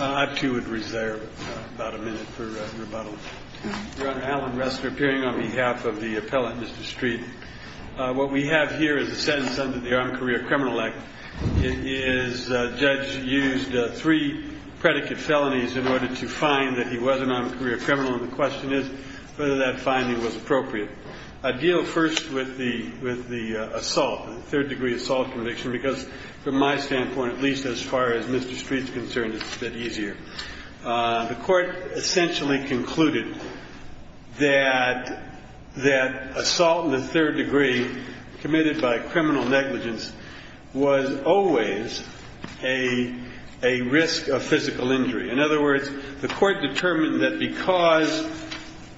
I, too, would reserve about a minute for rebuttal. Your Honor, Alan Ressler, appearing on behalf of the appellant, Mr. Striet. What we have here is a sentence under the Armed Career Criminal Act. The judge used three predicate felonies in order to find that he was an armed career criminal, and the question is whether that finding was appropriate. I deal first with the assault, the third-degree assault conviction, because from my standpoint, at least as far as Mr. Striet is concerned, it's a bit easier. The court essentially concluded that assault in the third degree committed by criminal negligence was always a risk of physical injury. In other words, the court determined that because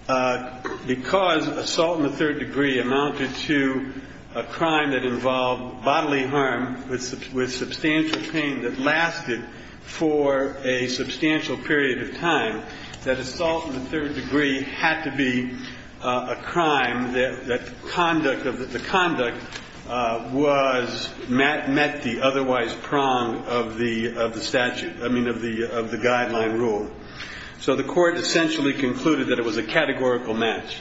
assault in the third degree amounted to a crime that involved bodily harm with substantial pain that lasted for a substantial period of time, that assault in the third degree had to be a crime that the conduct was met the otherwise prong of the statute I mean, of the guideline rule. So the court essentially concluded that it was a categorical match.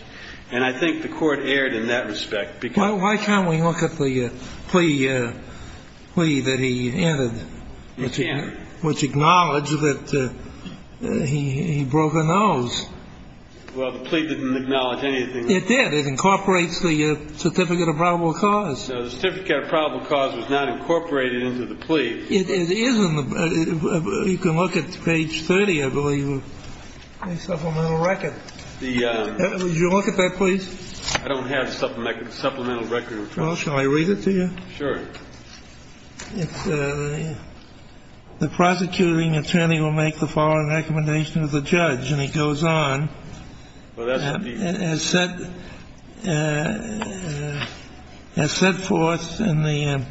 And I think the court erred in that respect because Why can't we look at the plea that he entered, which acknowledged that he broke a nose? Well, the plea didn't acknowledge anything. It did. It incorporates the certificate of probable cause. No, the certificate of probable cause was not incorporated into the plea. It isn't. You can look at page 30, I believe, of the supplemental record. Would you look at that, please? I don't have a supplemental record. Well, shall I read it to you? Sure. The prosecuting attorney will make the following recommendation of the judge, and he goes on. Well, that's the deed. As set forth in the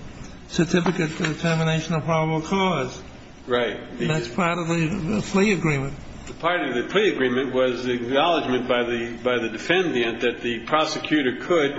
certificate of determination of probable cause. Right. And that's part of the plea agreement. Part of the plea agreement was acknowledgment by the defendant that the prosecutor could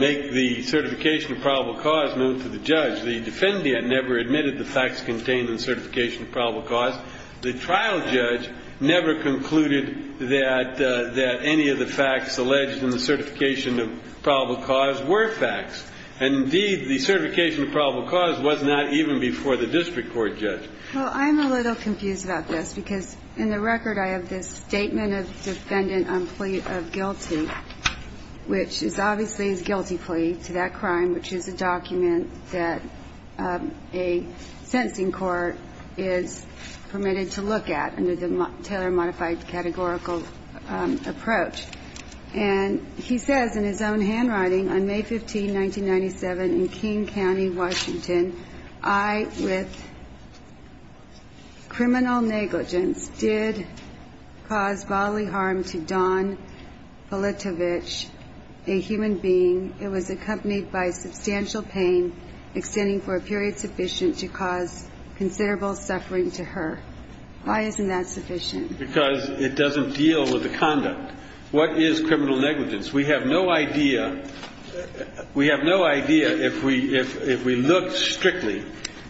make the certification of probable cause known to the judge. The defendant never admitted the facts contained in the certification of probable cause. The trial judge never concluded that any of the facts alleged in the certification of probable cause were facts. And, indeed, the certification of probable cause was not even before the district court judge. Well, I'm a little confused about this, because in the record I have this statement of defendant on plea of guilty, which is obviously a guilty plea to that crime, which is a document that a sentencing court is permitted to look at under the Taylor modified categorical approach. And he says in his own handwriting, on May 15, 1997, in King County, Washington, I, with criminal negligence, did cause bodily harm to Dawn Politovich, a human being. It was accompanied by substantial pain, extending for a period sufficient to cause considerable suffering to her. Why isn't that sufficient? Because it doesn't deal with the conduct. What is criminal negligence? We have no idea if we look strictly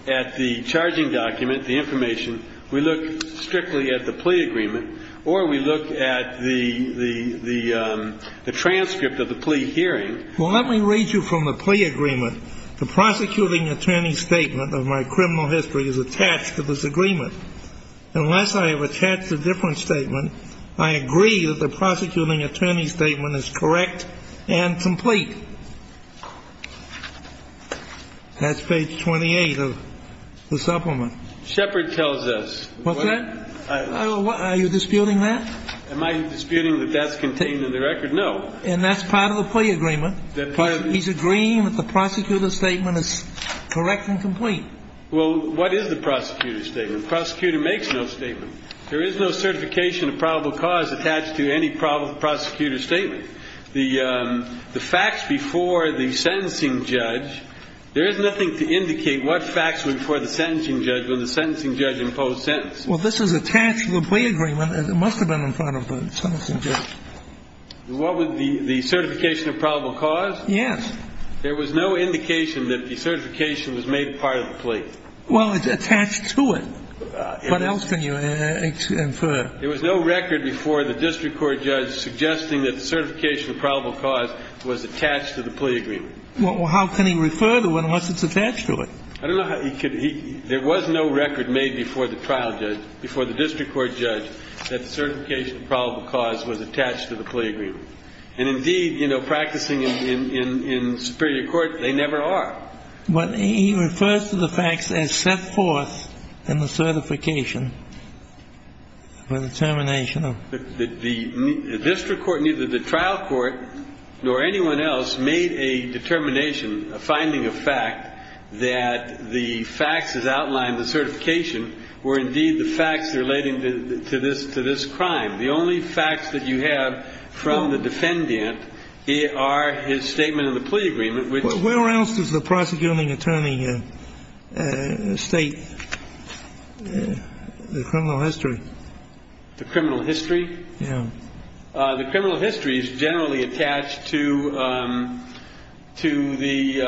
at the charging document, the information, we look strictly at the plea agreement, or we look at the transcript of the plea hearing. Well, let me read you from the plea agreement. The prosecuting attorney's statement of my criminal history is attached to this agreement. Unless I have attached a different statement, I agree that the prosecuting attorney's statement is correct and complete. That's page 28 of the supplement. Shepherd tells us. What's that? Are you disputing that? Am I disputing that that's contained in the record? No. And that's part of the plea agreement. He's agreeing that the prosecutor's statement is correct and complete. Well, what is the prosecutor's statement? The prosecutor makes no statement. There is no certification of probable cause attached to any prosecutor's statement. The facts before the sentencing judge, there is nothing to indicate what facts were before the sentencing judge when the sentencing judge imposed sentences. Well, this is attached to the plea agreement. It must have been in front of the sentencing judge. The certification of probable cause? Yes. There was no indication that the certification was made part of the plea. Well, it's attached to it. What else can you infer? There was no record before the district court judge suggesting that the certification of probable cause was attached to the plea agreement. Well, how can he refer to it unless it's attached to it? I don't know how he could. There was no record made before the trial judge, before the district court judge, that the certification of probable cause was attached to the plea agreement. And indeed, you know, practicing in superior court, they never are. But he refers to the facts as set forth in the certification for the termination of. The district court, neither the trial court nor anyone else, made a determination, a finding of fact, that the facts as outlined in the certification were indeed the facts relating to this crime. The only facts that you have from the defendant are his statement in the plea agreement. Where else does the prosecuting attorney state the criminal history? The criminal history? Yeah. The criminal history is generally attached to the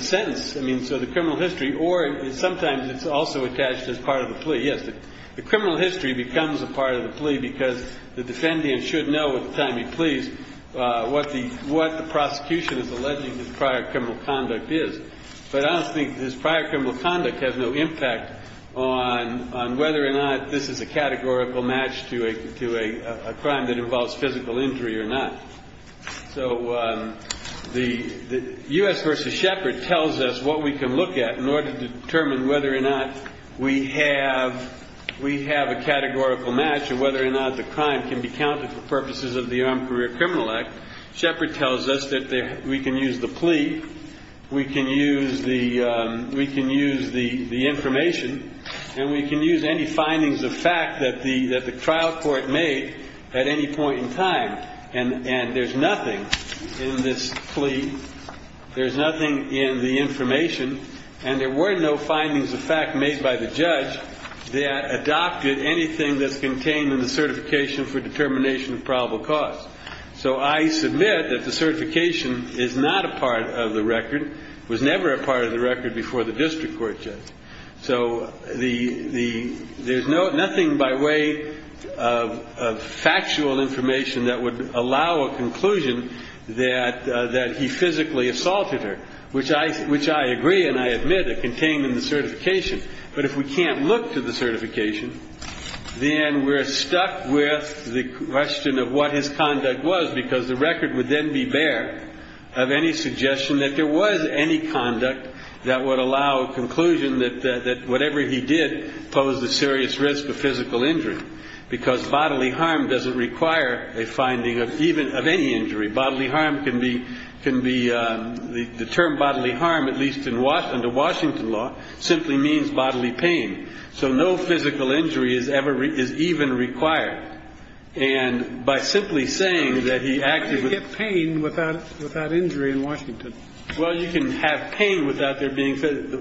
sentence. I mean, so the criminal history or sometimes it's also attached as part of the plea. Yes. The criminal history becomes a part of the plea because the defendant should know at the time he pleas what the prosecution is alleging his prior criminal conduct is. But I don't think his prior criminal conduct has no impact on whether or not this is a categorical match to a crime that involves physical injury or not. So the U.S. v. Shepard tells us what we can look at in order to determine whether or not we have a categorical match and whether or not the crime can be counted for the purposes of the Armed Career Criminal Act. Shepard tells us that we can use the plea. We can use the information. And we can use any findings of fact that the trial court made at any point in time. And there's nothing in this plea. There's nothing in the information. And there were no findings of fact made by the judge that adopted anything that's So I submit that the certification is not a part of the record, was never a part of the record before the district court judge. So there's nothing by way of factual information that would allow a conclusion that he physically assaulted her, which I agree and I admit it contained in the certification. But if we can't look to the certification, then we're stuck with the question of what his conduct was, because the record would then be bare of any suggestion that there was any conduct that would allow a conclusion that whatever he did posed a serious risk of physical injury, because bodily harm doesn't require a finding of even of any injury. Bodily harm can be the term bodily harm, at least in Washington to Washington law simply means bodily pain. So no physical injury is ever is even required. And by simply saying that he acted with pain without without injury in Washington. Well, you can have pain without there being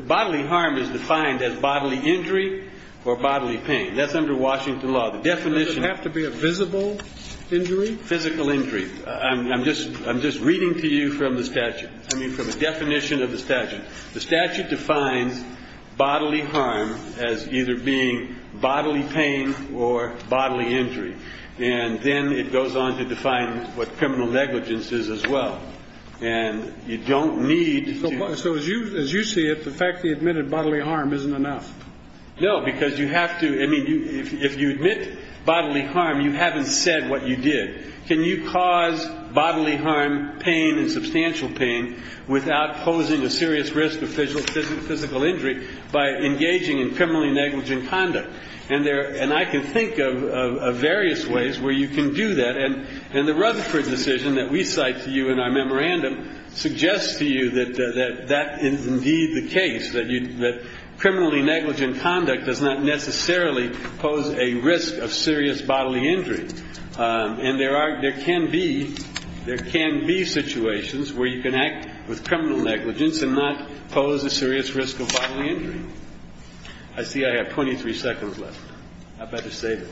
bodily harm is defined as bodily injury or bodily pain. That's under Washington law. The definition have to be a visible injury. Physical injury. I'm just I'm just reading to you from the statute. I mean, from the definition of the statute, the statute defines bodily harm as either being bodily pain or bodily injury. And then it goes on to define what criminal negligence is as well. And you don't need. So as you as you see it, the fact he admitted bodily harm isn't enough. No, because you have to. I mean, if you admit bodily harm, you haven't said what you did. Can you cause bodily harm, pain and substantial pain without posing a serious risk of physical physical injury by engaging in criminally negligent conduct? And there and I can think of various ways where you can do that. And in the Rutherford decision that we cite to you in our memorandum suggests to you that that is indeed the case, that you that criminally negligent conduct does not necessarily pose a risk of serious bodily injury. And there are there can be there can be situations where you can act with criminal negligence and not pose a serious risk of bodily injury. I see I have 23 seconds left. I better save it.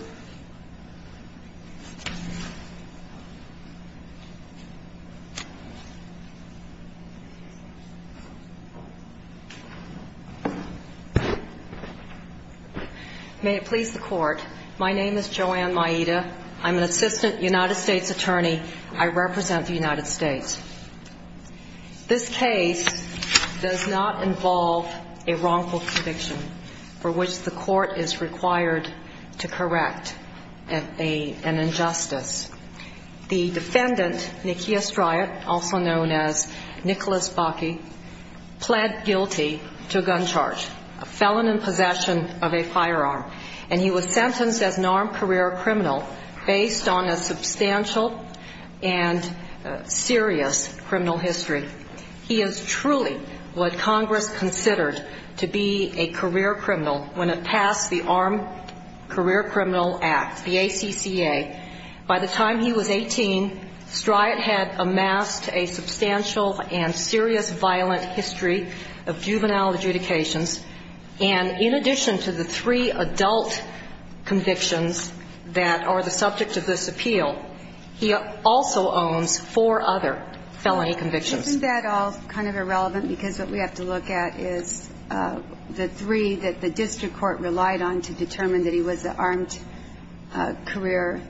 May it please the court. My name is Joanne Maida. I'm an assistant United States attorney. I represent the United States. This case does not involve a wrongful conviction for which the court is required to correct an injustice. known as Nicholas Bakke, pled guilty to a gun charge, a felon in possession of a firearm. And he was sentenced as an armed career criminal based on a substantial and serious criminal history. He is truly what Congress considered to be a career criminal when it passed the Armed Career Criminal Act, the ACCA. By the time he was 18, Stryd had amassed a substantial and serious violent history of juvenile adjudications. And in addition to the three adult convictions that are the subject of this appeal, he also owns four other felony convictions. Isn't that all kind of irrelevant? Because what we have to look at is the three that the district court relied on to determine that he was an armed career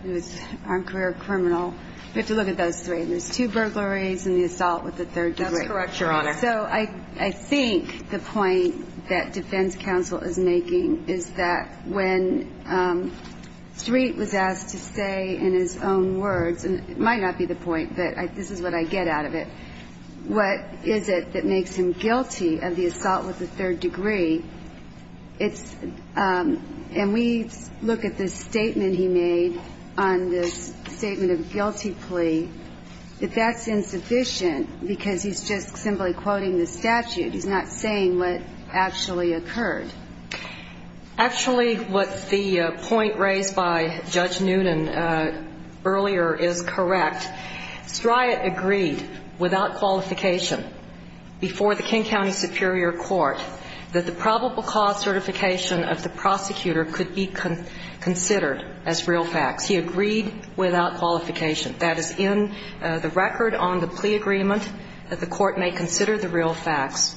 criminal. We have to look at those three. There's two burglaries and the assault with the third degree. That's correct, Your Honor. So I think the point that defense counsel is making is that when Stryd was asked to say in his own words, and it might not be the point, but this is what I get out of it, what is it that makes him guilty of the assault with the third degree? And we look at the statement he made on this statement of guilty plea, that that's insufficient because he's just simply quoting the statute. He's not saying what actually occurred. Actually, what the point raised by Judge Noonan earlier is correct. Stryd agreed without qualification before the King County Superior Court that the probable cause certification of the prosecutor could be considered as real facts. He agreed without qualification. That is in the record on the plea agreement that the court may consider the real facts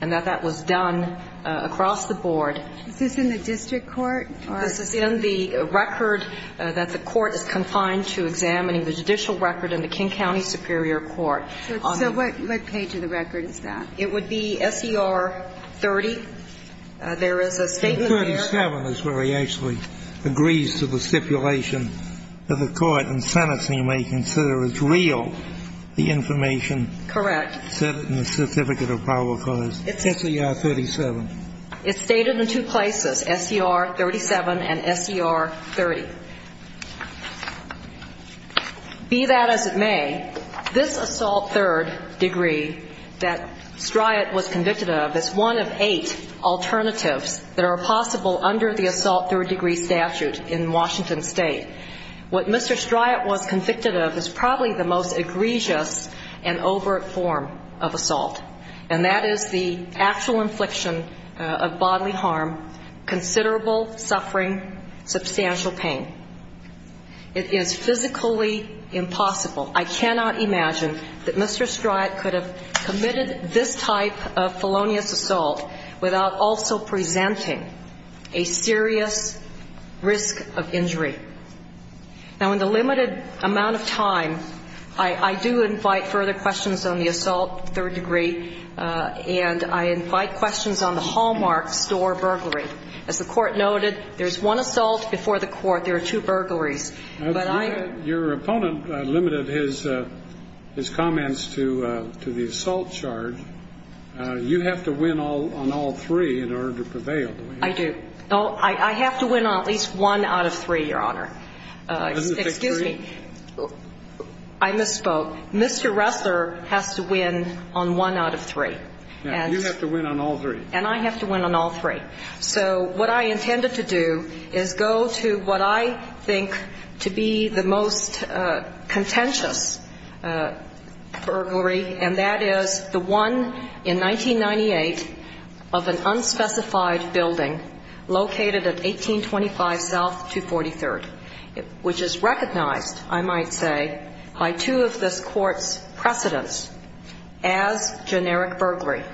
and that that was done across the board. Is this in the district court? This is in the record that the court is confined to examining the judicial record in the King County Superior Court. So what page of the record is that? It would be SER 30. There is a statement there. 37 is where he actually agrees to the stipulation that the court in sentencing may consider as real the information. Correct. It's stated in the certificate of probable cause. It's SER 37. It's stated in two places, SER 37 and SER 30. Be that as it may, this assault third degree that Stryd was convicted of is one of eight alternatives that are possible under the assault third degree statute in Washington State. What Mr. Stryd was convicted of is probably the most egregious and overt form of assault, and that is the actual infliction of bodily harm, considerable suffering, substantial pain. It is physically impossible. I cannot imagine that Mr. Stryd could have committed this type of felonious assault without also presenting a serious risk of injury. Now, in the limited amount of time, I do invite further questions on the assault third degree, and I invite questions on the Hallmark store burglary. As the court noted, there's one assault before the court. There are two burglaries. Your opponent limited his comments to the assault charge. You have to win on all three in order to prevail. I do. I have to win on at least one out of three, Your Honor. Excuse me. I misspoke. Mr. Ressler has to win on one out of three. You have to win on all three. And I have to win on all three. So what I intended to do is go to what I think to be the most contentious burglary, and that is the one in 1998 of an unspecified building located at 1825 South 243rd, which is recognized, I might say, by two of this Court's precedents as generic burglary.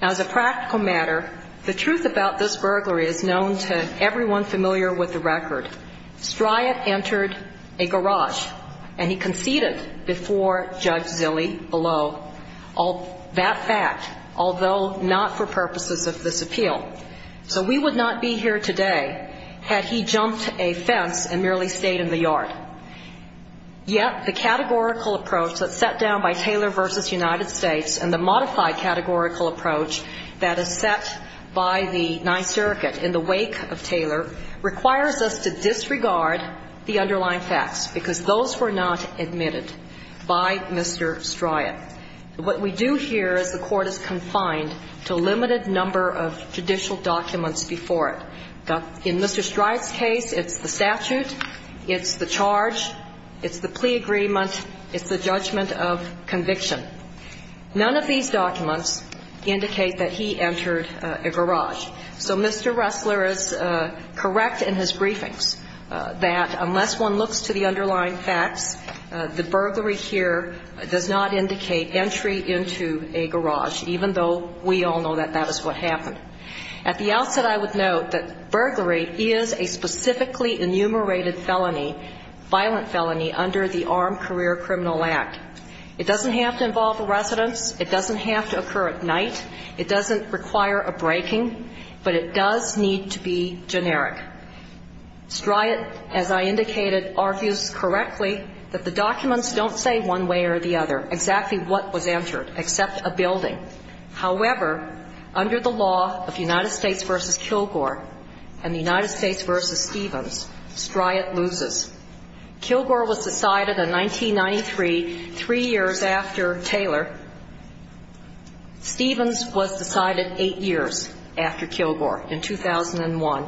Now, as a practical matter, the truth about this burglary is known to everyone familiar with the record. Stryat entered a garage, and he conceded before Judge Zille below that fact, although not for purposes of this appeal. So we would not be here today had he jumped a fence and merely stayed in the yard. Yet the categorical approach that's set down by Taylor v. United States and the modified categorical approach that is set by the Ninth Circuit in the wake of Taylor requires us to disregard the underlying facts because those were not admitted by Mr. Stryat. What we do here is the Court is confined to a limited number of judicial documents before it. In Mr. Stryat's case, it's the statute, it's the charge, it's the plea agreement, it's the judgment of conviction. None of these documents indicate that he entered a garage. So Mr. Ressler is correct in his briefings that unless one looks to the underlying facts, the burglary here does not indicate entry into a garage, even though we all know that that is what happened. At the outset, I would note that burglary is a specifically enumerated felony, violent felony under the Armed Career Criminal Act. It doesn't have to involve a residence. It doesn't have to occur at night. It doesn't require a breaking. But it does need to be generic. Stryat, as I indicated, argues correctly that the documents don't say one way or the other exactly what was entered, except a building. However, under the law of United States v. Kilgore and the United States v. Stevens, Stryat loses. Kilgore was decided in 1993, three years after Taylor. Stevens was decided eight years after Kilgore in 2001.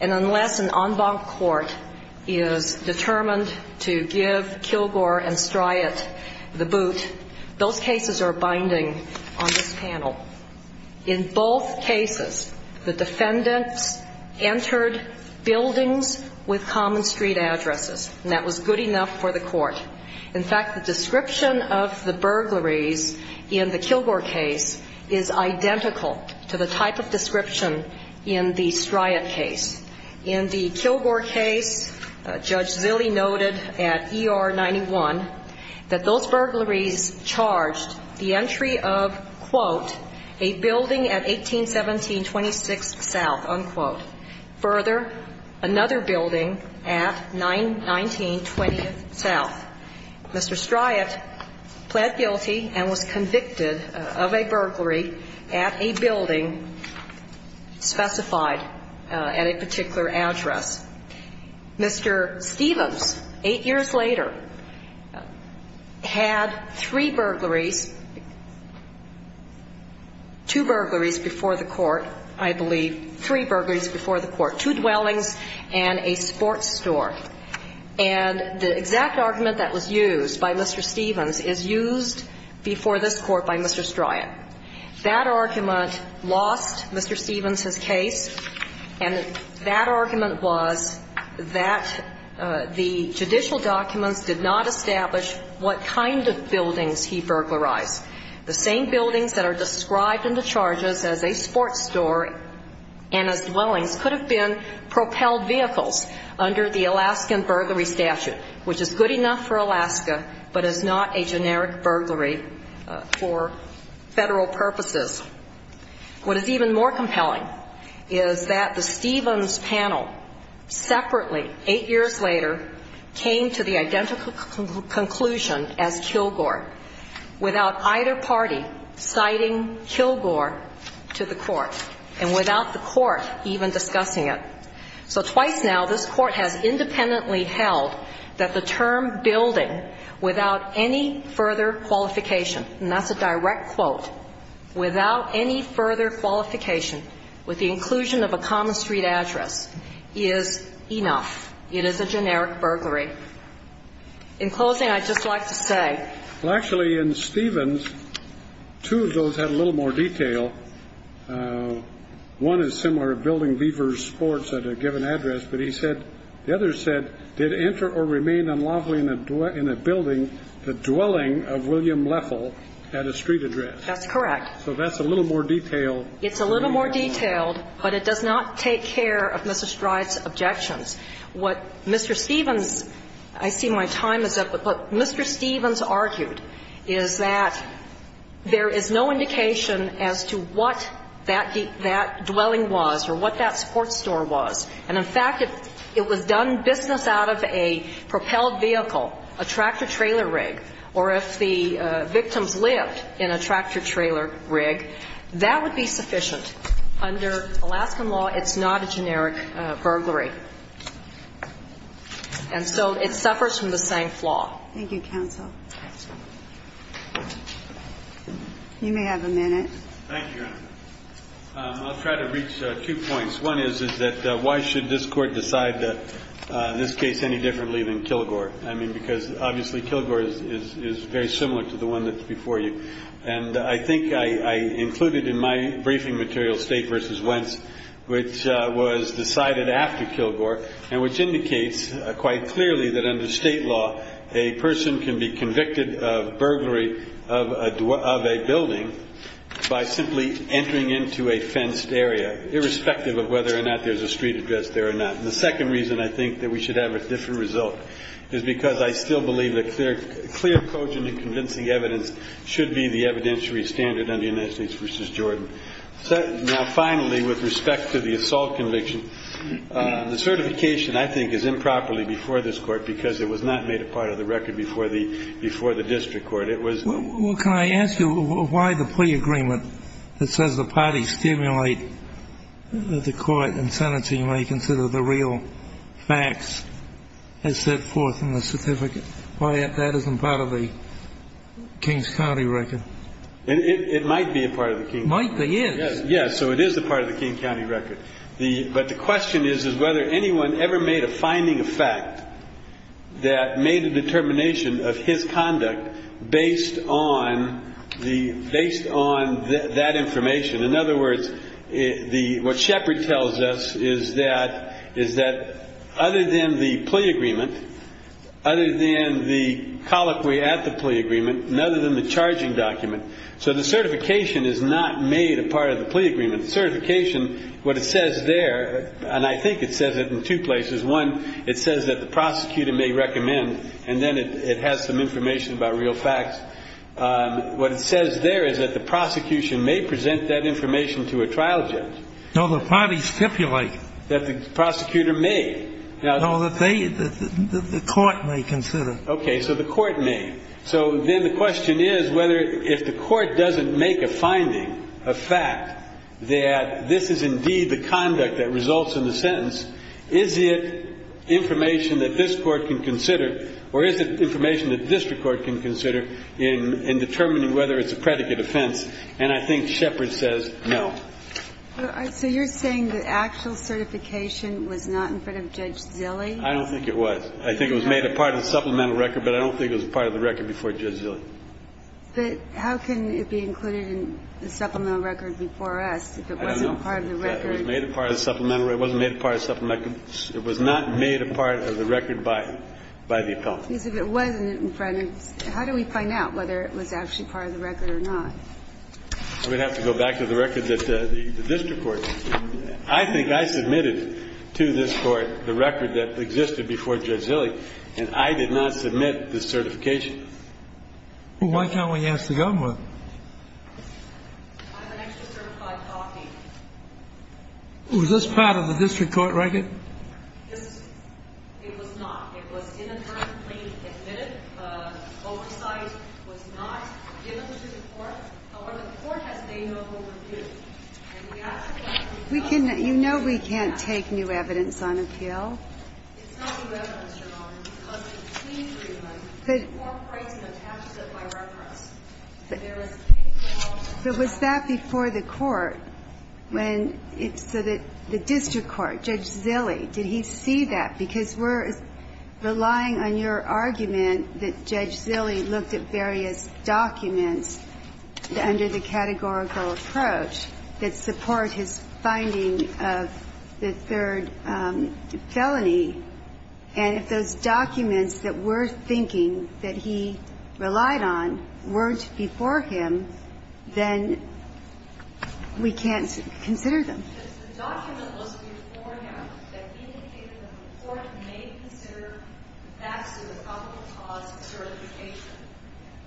And unless an en banc court is determined to give Kilgore and Stryat the boot, those cases are binding on this panel. In both cases, the defendants entered buildings with common street addresses, and that was good enough for the court. In fact, the description of the burglaries in the Kilgore case is identical to the type of description in the Stryat case. In the Kilgore case, Judge Zille noted at ER 91 that those burglaries charged the entry of, quote, a building at 1817 26th South, unquote. Further, another building at 919 20th South. Mr. Stryat pled guilty and was convicted of a burglary at a building specified at a particular address. Mr. Stevens, eight years later, had three burglaries, two burglaries before the court, I believe, three burglaries before the court, two dwellings and a sports store. And the exact argument that was used by Mr. Stevens is used before this court by Mr. Stryat. That argument lost Mr. Stevens's case, and that argument was that the judicial documents did not establish what kind of buildings he burglarized. The same buildings that are described in the charges as a sports store and as dwellings could have been propelled vehicles under the Alaskan burglary statute, which is good enough for Alaska, but is not a generic burglary for Federal purposes. What is even more compelling is that the Stevens panel separately, eight years later, came to the identical conclusion as Kilgore, without either party citing Kilgore to the court, and without the court even discussing it. So twice now, this court has independently held that the term building, without any further qualification, and that's a direct quote, without any further qualification, with the inclusion of a common street address, is enough. It is a generic burglary. In closing, I'd just like to say. Well, actually, in Stevens, two of those had a little more detail. One is similar to building Beavers Sports at a given address, but he said, the other said, did enter or remain unlawfully in a building the dwelling of William Leffel at a street address. That's correct. So that's a little more detailed. It's a little more detailed, but it does not take care of Mr. Stride's objections. What Mr. Stevens, I see my time is up, but what Mr. Stevens argued is that there is no indication as to what that dwelling was or what that sports store was. And in fact, if it was done business out of a propelled vehicle, a tractor-trailer rig, or if the victims lived in a tractor-trailer rig, that would be sufficient. Under Alaskan law, it's not a generic burglary. And so it suffers from the same flaw. Thank you, counsel. You may have a minute. Thank you, Your Honor. I'll try to reach two points. One is, is that why should this Court decide this case any differently than Kilgore? I mean, because obviously Kilgore is very similar to the one that's before you. And I think I included in my briefing material State v. Wentz, which was decided after Kilgore, and which indicates quite clearly that under State law, a person can be convicted of burglary of a building by simply entering into a fenced area, irrespective of whether or not there's a street address there or not. And the second reason I think that we should have a different result is because I still believe that clear, cogent, and convincing evidence should be the evidentiary standard under United States v. Jordan. Now, finally, with respect to the assault conviction, the certification, I think, is improperly before this Court because it was not made a part of the record before the district court. It was the court. Well, can I ask you why the plea agreement that says the parties stimulate the court and senators who may consider the real facts is set forth in the certificate? Why that isn't part of the King's County record? It might be a part of the King's County record. Might be, yes. Yes. So it is a part of the King County record. But the question is whether anyone ever made a finding of fact that made a determination of his conduct based on that information. In other words, what Shepard tells us is that other than the plea agreement, other than the colloquy at the plea agreement, and other than the charging document, so the certification is not made a part of the plea agreement. Certification, what it says there, and I think it says it in two places. One, it says that the prosecutor may recommend, and then it has some information about real facts. What it says there is that the prosecution may present that information to a trial judge. No, the parties stipulate. That the prosecutor may. No, the court may consider. Okay. So the court may. So then the question is whether if the court doesn't make a finding, a fact, that this is indeed the conduct that results in the sentence, is it information that this court can consider or is it information that the district court can consider in determining whether it's a predicate offense? And I think Shepard says no. So you're saying the actual certification was not in front of Judge Zille? I don't think it was. I think it was made a part of the supplemental record, but I don't think it was a part of the record before Judge Zille. But how can it be included in the supplemental record before us if it wasn't a part of the record? It was made a part of the supplemental record. It wasn't made a part of the supplemental record. It was not made a part of the record by the appellant. Because if it wasn't in front, how do we find out whether it was actually part of the record or not? We'd have to go back to the record that the district court. I think I submitted to this court the record that existed before Judge Zille, and I did not submit the certification. Well, why can't we ask the government? I have an extra certified copy. Was this part of the district court record? It was not. It was inadvertently admitted. Oversight was not given to the court. However, the court has made an overview. You know we can't take new evidence on appeal. It's not new evidence, Your Honor. It was a team agreement. The court writes and attaches it by reference. But was that before the court? So the district court, Judge Zille, did he see that? Because we're relying on your argument that Judge Zille looked at various documents under the categorical approach that support his finding of the third felony. And if those documents that we're thinking that he relied on weren't before him, then we can't consider them. Because the document was before him that indicated that the court may consider facts as a probable cause for certification.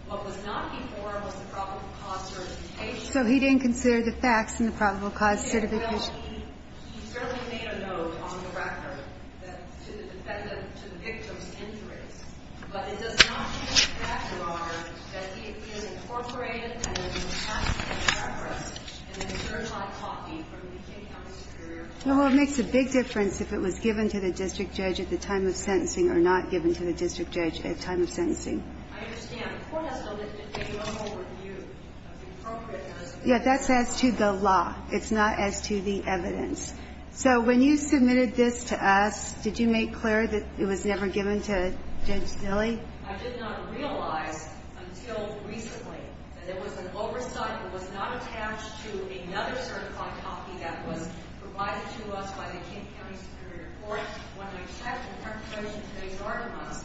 What was not before him was a probable cause for certification. So he didn't consider the facts in the probable cause certification. Well, he certainly made a note on the record to the victim's injuries. But it does not show the fact, Your Honor, that he has incorporated and attached an address and a certified copy from the King County Superior Court. Well, it makes a big difference if it was given to the district judge at the time of sentencing or not given to the district judge at the time of sentencing. I understand. The court has to look at the overall review of the appropriate evidence. Yeah, that's as to the law. It's not as to the evidence. So when you submitted this to us, did you make clear that it was never given to Judge Zille? I did not realize until recently that there was an oversight that was not attached to another certified copy that was provided to us by the King County Superior Court. When I checked in preparation for today's arguments,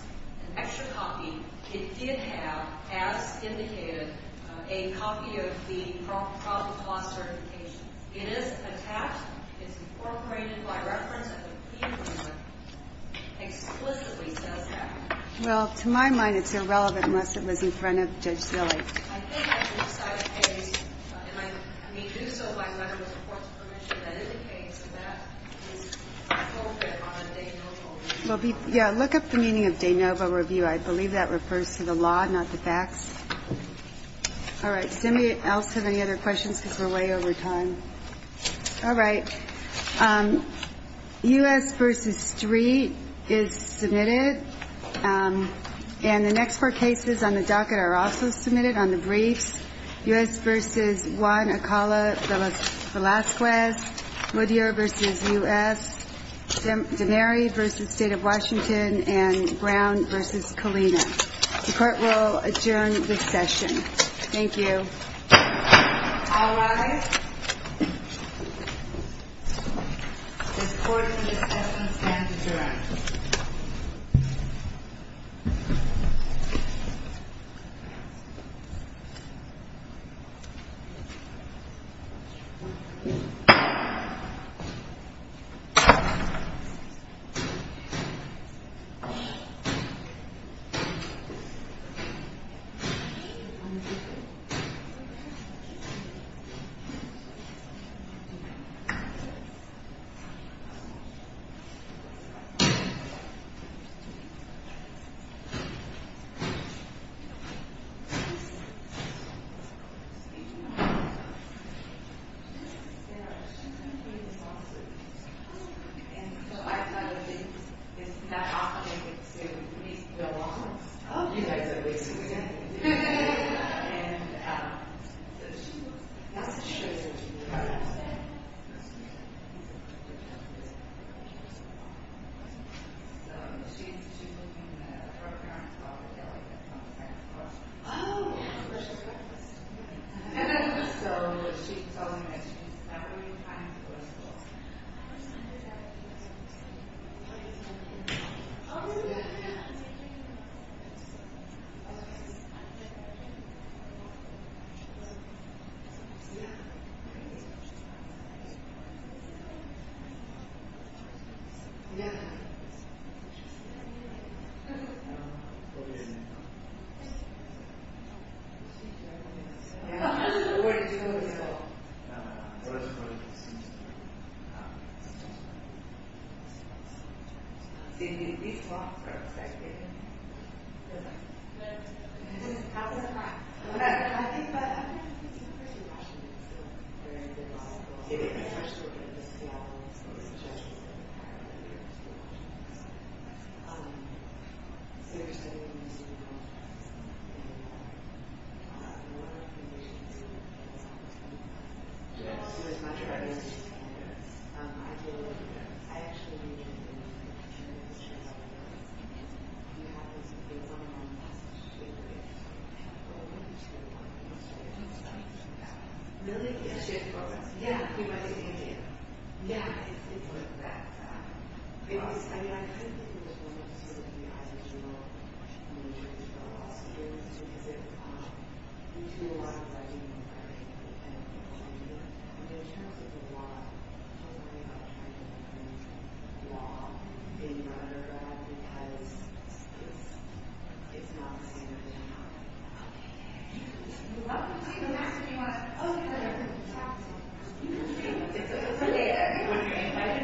an extra copy, it did have, as indicated, a copy of the probable cause certification. It isn't attached. It's incorporated by reference, and the plea agreement explicitly says that. Well, to my mind, it's irrelevant unless it was in front of Judge Zille. I think as an oversight case, and we do so by letter of the court's permission, that is appropriate on a de novo review. Yeah, look up the meaning of de novo review. I believe that refers to the law, not the facts. All right, does anybody else have any other questions because we're way over time? All right. U.S. v. Street is submitted, and the next four cases on the docket are also submitted on the briefs. U.S. v. Juan Acala-Velasquez, Moodyer v. U.S., Denary v. State of Washington, and Brown v. Colina. The court will adjourn this session. Thank you. All rise. The court will dismiss and adjourn. The court is adjourned. The court is adjourned. The court is adjourned. Yeah, it's worth that. I mean, I couldn't think of a more suitable unit for law students to visit. We do a lot of writing and writing, and in terms of the law, I'm worried about trying to learn law in undergrad because it's not the same as it was. Okay. You're welcome to come back if you want to talk to me. It's okay. I'm wondering. I think it's okay. It's okay.